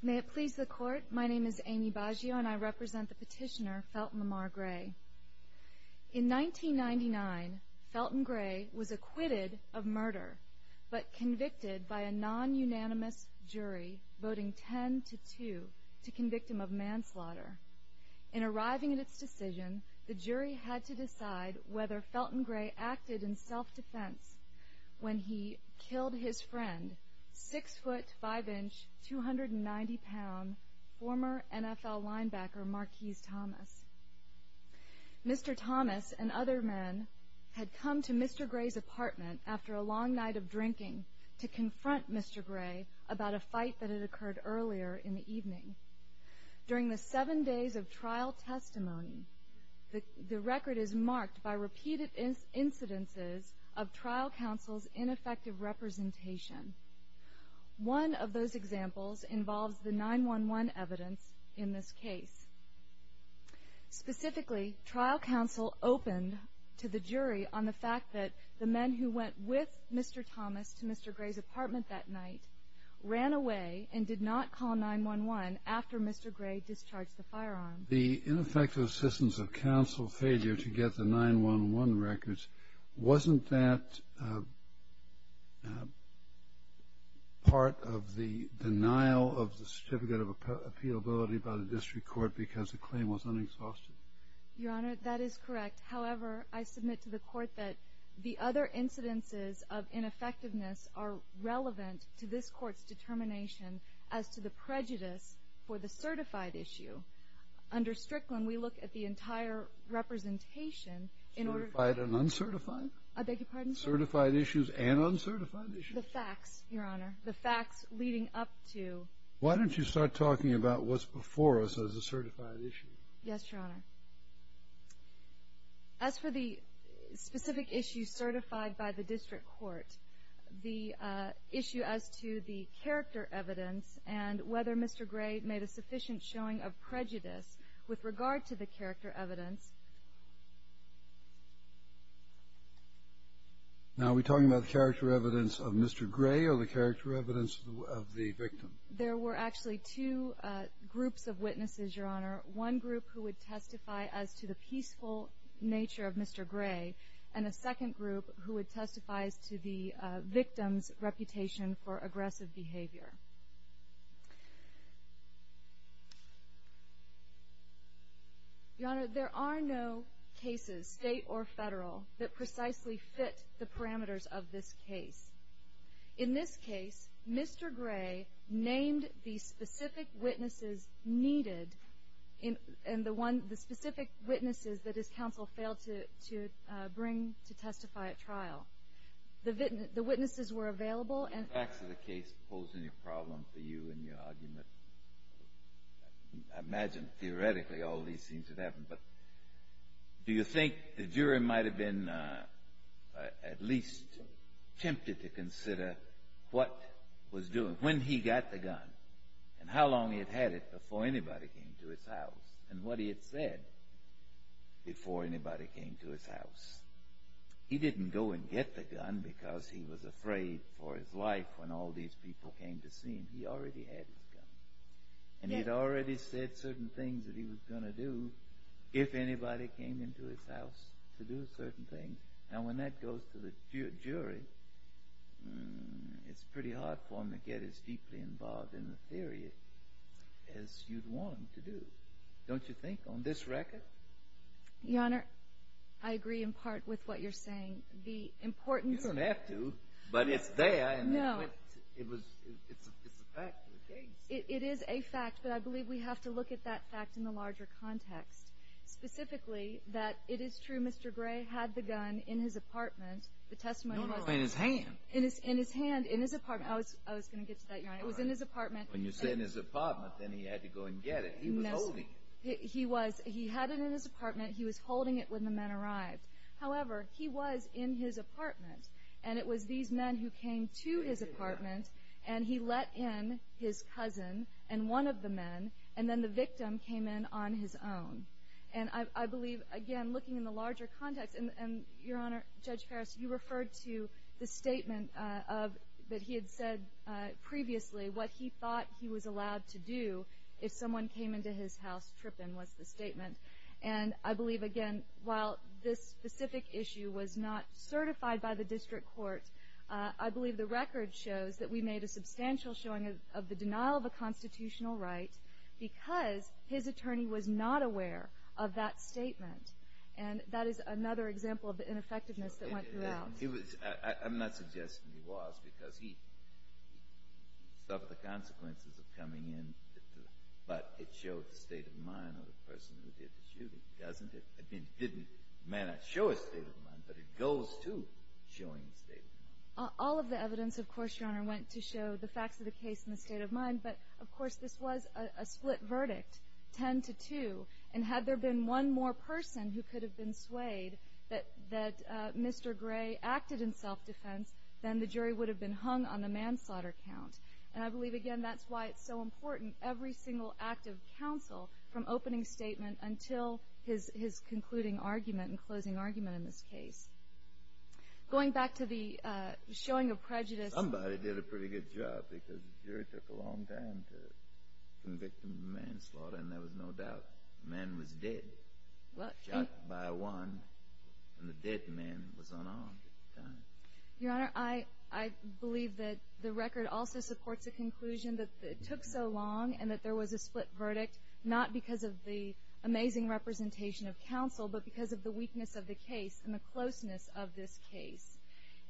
May it please the Court, my name is Amy Baggio and I represent the petitioner, Felton Lamar Gray. In 1999, Felton Gray was acquitted of murder, but convicted by a non-unanimous jury voting 10-2 to convict him of manslaughter. In arriving at its decision, the jury had to decide whether Felton Gray acted in self-defense when he killed his friend, 6'5", 290 pound, former NFL linebacker Marquise Thomas. Mr. Thomas and other men had come to Mr. Gray's apartment after a long night of drinking to confront Mr. Gray about a fight that had occurred earlier in the evening. During the seven days of trial testimony, the record is marked by repeated incidences of trial counsel's ineffective representation. One of those examples involves the 9-1-1 evidence in this case. Specifically, trial counsel opened to the jury on the fact that the men who went with Mr. Thomas to Mr. Gray's apartment that night ran away and did not call 9-1-1 after Mr. Gray discharged the firearm. The ineffective assistance of counsel failure to get the 9-1-1 records, wasn't that part of the denial of the Certificate of Appealability by the District Court because the claim was unexhausted? Your Honor, that is correct. However, I submit to the Court that the other incidences of ineffectiveness are relevant to this Court's determination as to the prejudice for the certified issue. Under Strickland, we look at the entire representation in order to... Certified and uncertified? I beg your pardon? Certified issues and uncertified issues? The facts, Your Honor. The facts leading up to... Why don't you start talking about what's before us as a certified issue? Yes, Your Honor. As for the specific issue certified by the District Court, the issue as to the character evidence and whether Mr. Gray made a sufficient showing of prejudice with regard to the character evidence... Now, are we talking about the character evidence of Mr. Gray or the character evidence of the victim? There were actually two groups of witnesses, Your Honor. One group who would testify as to the peaceful nature of Mr. Gray, and a second group who would testify as to the victim's reputation for aggressive behavior. Your Honor, there are no cases, state or federal, that precisely fit the parameters of this case. In this case, Mr. Gray named the specific witnesses needed and the specific witnesses that his counsel failed to bring to testify at trial. The witnesses were available and... I'm not posing a problem for you in your argument. I imagine, theoretically, all these things would happen, but do you think the jury might have been at least tempted to consider what was doing... Your Honor, I agree in part with what you're saying. The importance... You don't have to, but it's there. No. It's a fact of the case. It is a fact, but I believe we have to look at that fact in the larger context. Specifically, that it is true Mr. Gray had the gun in his apartment. No, no, in his hand. In his hand, in his apartment. I was going to get to that, Your Honor. It was in his apartment. When you say in his apartment, then he had to go and get it. He was holding it. He had it in his apartment. He was holding it when the men arrived. However, he was in his apartment, and it was these men who came to his apartment, and he let in his cousin and one of the men, and then the victim came in on his own. And I believe, again, looking in the larger context, and Your Honor, Judge Farris, you referred to the statement that he had said previously, what he thought he was allowed to do if someone came into his house tripping, was the statement. And I believe, again, while this specific issue was not certified by the district court, I believe the record shows that we made a substantial showing of the denial of a constitutional right because his attorney was not aware of that statement. And that is another example of the ineffectiveness that went throughout. I'm not suggesting he was because he suffered the consequences of coming in, but it showed the state of mind of the person who did the shooting, doesn't it? I mean, it may not show a state of mind, but it goes to showing a state of mind. All of the evidence, of course, Your Honor, went to show the facts of the case and the state of mind, but, of course, this was a split verdict, 10 to 2. And had there been one more person who could have been swayed that Mr. Gray acted in self-defense, then the jury would have been hung on the manslaughter count. And I believe, again, that's why it's so important, every single act of counsel, from opening statement until his concluding argument and closing argument in this case. Going back to the showing of prejudice. Somebody did a pretty good job because the jury took a long time to convict him of manslaughter, and there was no doubt the man was dead. Shot by one, and the dead man was unarmed at the time. Your Honor, I believe that the record also supports the conclusion that it took so long and that there was a split verdict, not because of the amazing representation of counsel, but because of the weakness of the case and the closeness of this case.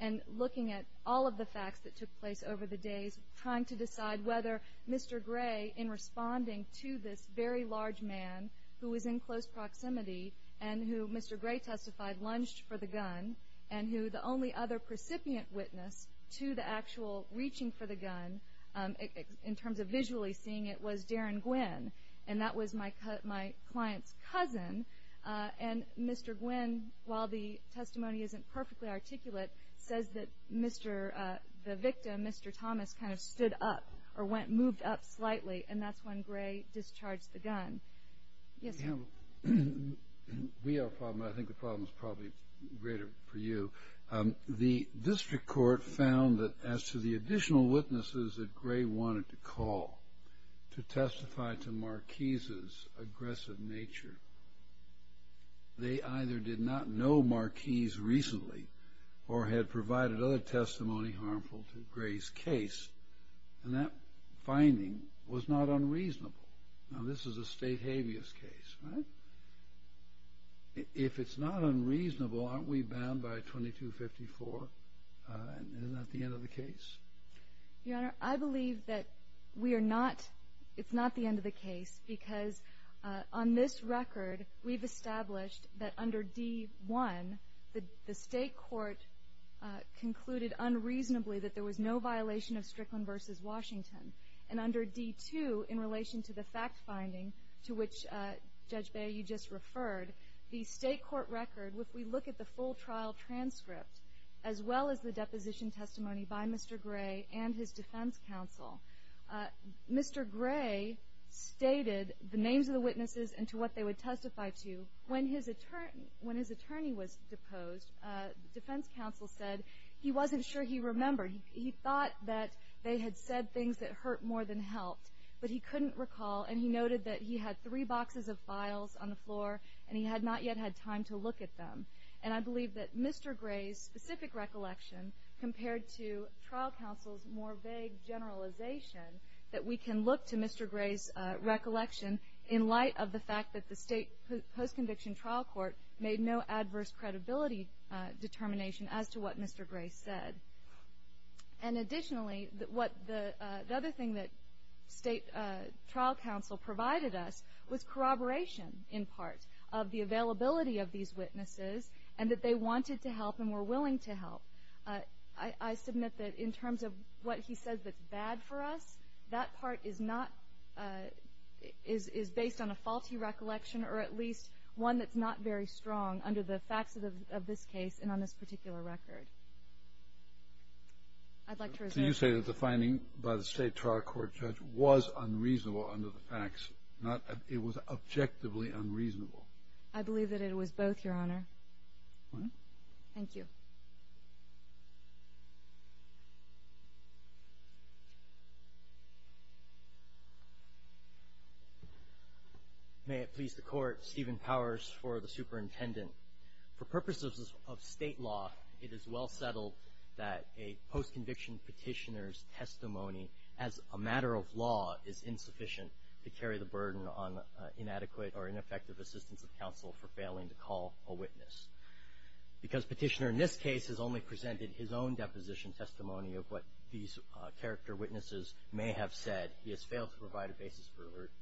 And looking at all of the facts that took place over the days, trying to decide whether Mr. Gray, in responding to this very large man, who was in close proximity and who Mr. Gray testified lunged for the gun, and who the only other precipient witness to the actual reaching for the gun, in terms of visually seeing it, was Darren Gwinn. And that was my client's cousin. And Mr. Gwinn, while the testimony isn't perfectly articulate, says that the victim, Mr. Thomas, kind of stood up or moved up slightly, and that's when Gray discharged the gun. Yes, sir. We have a problem, and I think the problem is probably greater for you. The district court found that as to the additional witnesses that Gray wanted to call to testify to Marquise's aggressive nature, they either did not know Marquise recently or had provided other testimony harmful to Gray's case. And that finding was not unreasonable. Now, this is a state habeas case, right? If it's not unreasonable, aren't we bound by 2254? Isn't that the end of the case? Your Honor, I believe that we are not. It's not the end of the case because on this record, we've established that under D-1, the state court concluded unreasonably that there was no violation of Strickland v. Washington. And under D-2, in relation to the fact finding to which, Judge Beyer, you just referred, the state court record, if we look at the full trial transcript, as well as the deposition testimony by Mr. Gray and his defense counsel, Mr. Gray stated the names of the witnesses and to what they would testify to. When his attorney was deposed, the defense counsel said he wasn't sure he remembered. He thought that they had said things that hurt more than helped. But he couldn't recall, and he noted that he had three boxes of files on the floor, and he had not yet had time to look at them. And I believe that Mr. Gray's specific recollection compared to trial counsel's more vague generalization, that we can look to Mr. Gray's recollection in light of the fact that the state post-conviction trial court made no adverse credibility determination as to what Mr. Gray said. And additionally, what the other thing that state trial counsel provided us was corroboration, in part, of the availability of these witnesses, and that they wanted to help and were willing to help. I submit that in terms of what he said that's bad for us, that part is not, is based on a faulty recollection or at least one that's not very strong under the facts of this case and on this particular record. I'd like to resume. So you say that the finding by the state trial court judge was unreasonable under the facts, not it was objectively unreasonable? I believe that it was both, Your Honor. All right. Thank you. May it please the Court, Stephen Powers for the Superintendent. For purposes of state law, it is well settled that a post-conviction petitioner's testimony as a matter of law is insufficient to carry the burden on inadequate or ineffective assistance of counsel for failing to call a witness. Because petitioner in this case has only presented his own deposition testimony of what these character witnesses may have said, he has failed to provide a basis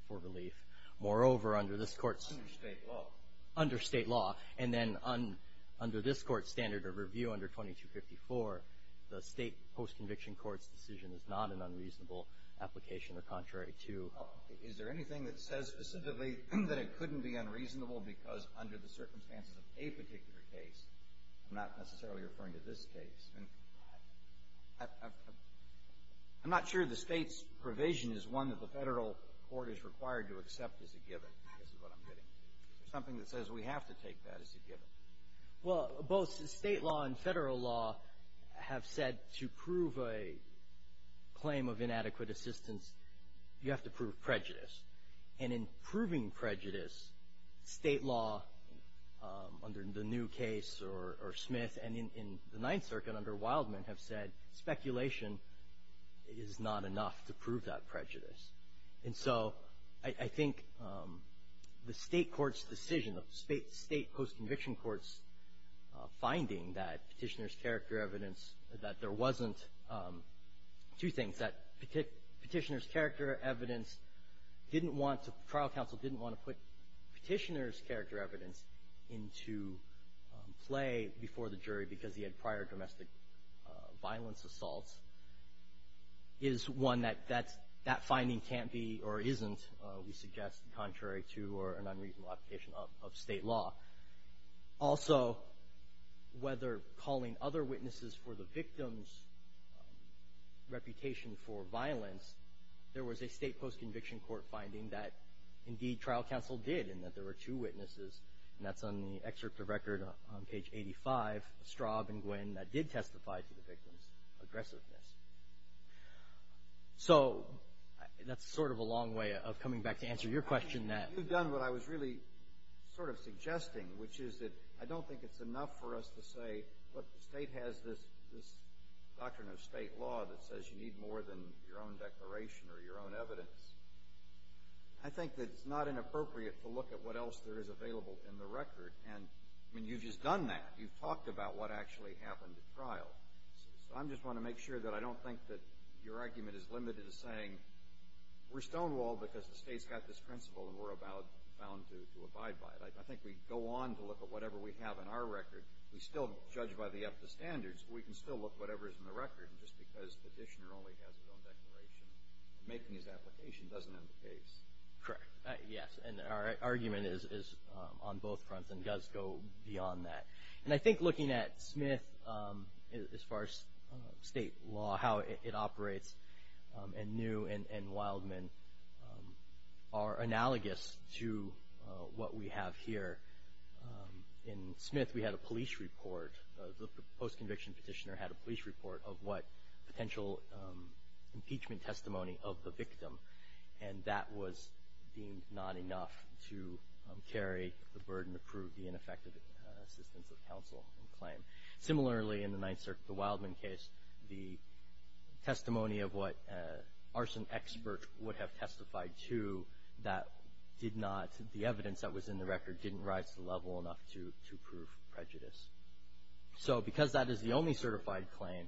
for relief. Moreover, under this Court's — Under state law. Under state law. And then under this Court's standard of review under 2254, the state post-conviction court's decision is not an unreasonable application or contrary to — Is there anything that says specifically that it couldn't be unreasonable because under the circumstances of a particular case? I'm not necessarily referring to this case. And I'm not sure the state's provision is one that the federal court is required to accept as a given. This is what I'm getting. Is there something that says we have to take that as a given? Well, both state law and federal law have said to prove a claim of inadequate assistance, you have to prove prejudice. And in proving prejudice, state law under the new case or Smith and in the Ninth Circuit under Wildman have said speculation is not enough to prove that prejudice. And so I think the state court's decision, the state post-conviction court's finding that petitioner's character evidence — that there wasn't two things, that petitioner's character evidence didn't want to — trial counsel didn't want to put petitioner's character evidence into play before the jury because he had prior domestic violence assaults is one that that's — that finding can't be or isn't, we suggest, contrary to or an unreasonable application of state law. Also, whether calling other witnesses for the victim's reputation for violence, there was a state post-conviction court finding that indeed trial counsel did in that there were two witnesses, and that's on the excerpt of record on page 85, Straub and Gwinn, that did testify to the victim's aggressiveness. So that's sort of a long way of coming back to answer your question that — which is that I don't think it's enough for us to say, look, the state has this doctrine of state law that says you need more than your own declaration or your own evidence. I think that it's not inappropriate to look at what else there is available in the record. And, I mean, you've just done that. You've talked about what actually happened at trial. So I just want to make sure that I don't think that your argument is limited to saying, we're stonewalled because the state's got this principle and we're bound to abide by it. I think we go on to look at whatever we have in our record. We still judge by the FTA standards, but we can still look at whatever is in the record, just because the petitioner only has his own declaration. Making his application doesn't end the case. Correct. Yes, and our argument is on both fronts and does go beyond that. And I think looking at Smith, as far as state law, how it operates, and New and Wildman are analogous to what we have here. In Smith, we had a police report. The post-conviction petitioner had a police report of what potential impeachment testimony of the victim. And that was deemed not enough to carry the burden to prove the ineffective assistance of counsel and claim. Similarly, in the Ninth Circuit, the Wildman case, the testimony of what arson experts would have testified to that did not, the evidence that was in the record didn't rise to the level enough to prove prejudice. So because that is the only certified claim,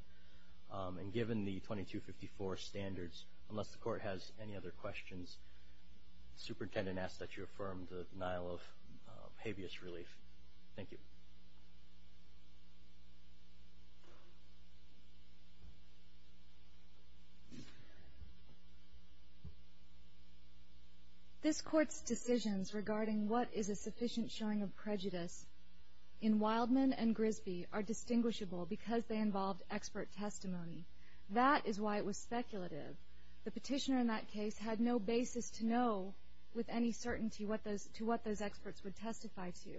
and given the 2254 standards, unless the Court has any other questions, Superintendent asks that you affirm the denial of habeas relief. Thank you. This Court's decisions regarding what is a sufficient showing of prejudice in Wildman and Grisby are distinguishable because they involved expert testimony. That is why it was speculative. The petitioner in that case had no basis to know with any certainty to what those experts would testify to.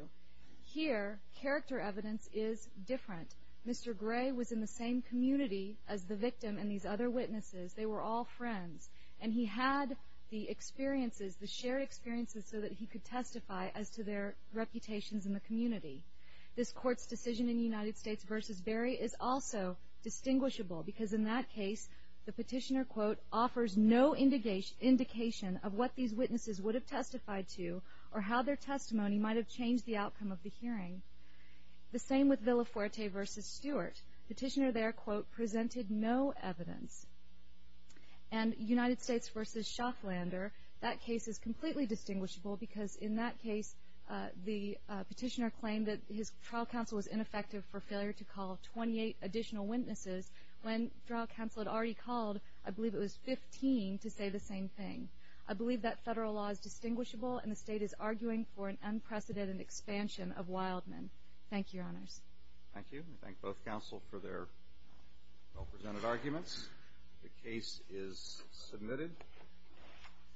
Here, character evidence is different. Mr. Gray was in the same community as the victim and these other witnesses. They were all friends. And he had the experiences, the shared experiences, so that he could testify as to their reputations in the community. This Court's decision in United States v. Berry is also distinguishable because in that case the petitioner, quote, offers no indication of what these witnesses would have testified to or how their testimony might have changed the outcome of the hearing. The same with Villafuerte v. Stewart. Petitioner there, quote, presented no evidence. And United States v. Schafflander, that case is completely distinguishable because in that case the petitioner claimed that his trial counsel was ineffective for failure to call 28 additional witnesses when trial counsel had already called, I believe it was 15, to say the same thing. I believe that federal law is distinguishable and the state is arguing for an unprecedented expansion of Wildman. Thank you, Your Honors. Thank you. I thank both counsel for their well-presented arguments. The case is submitted.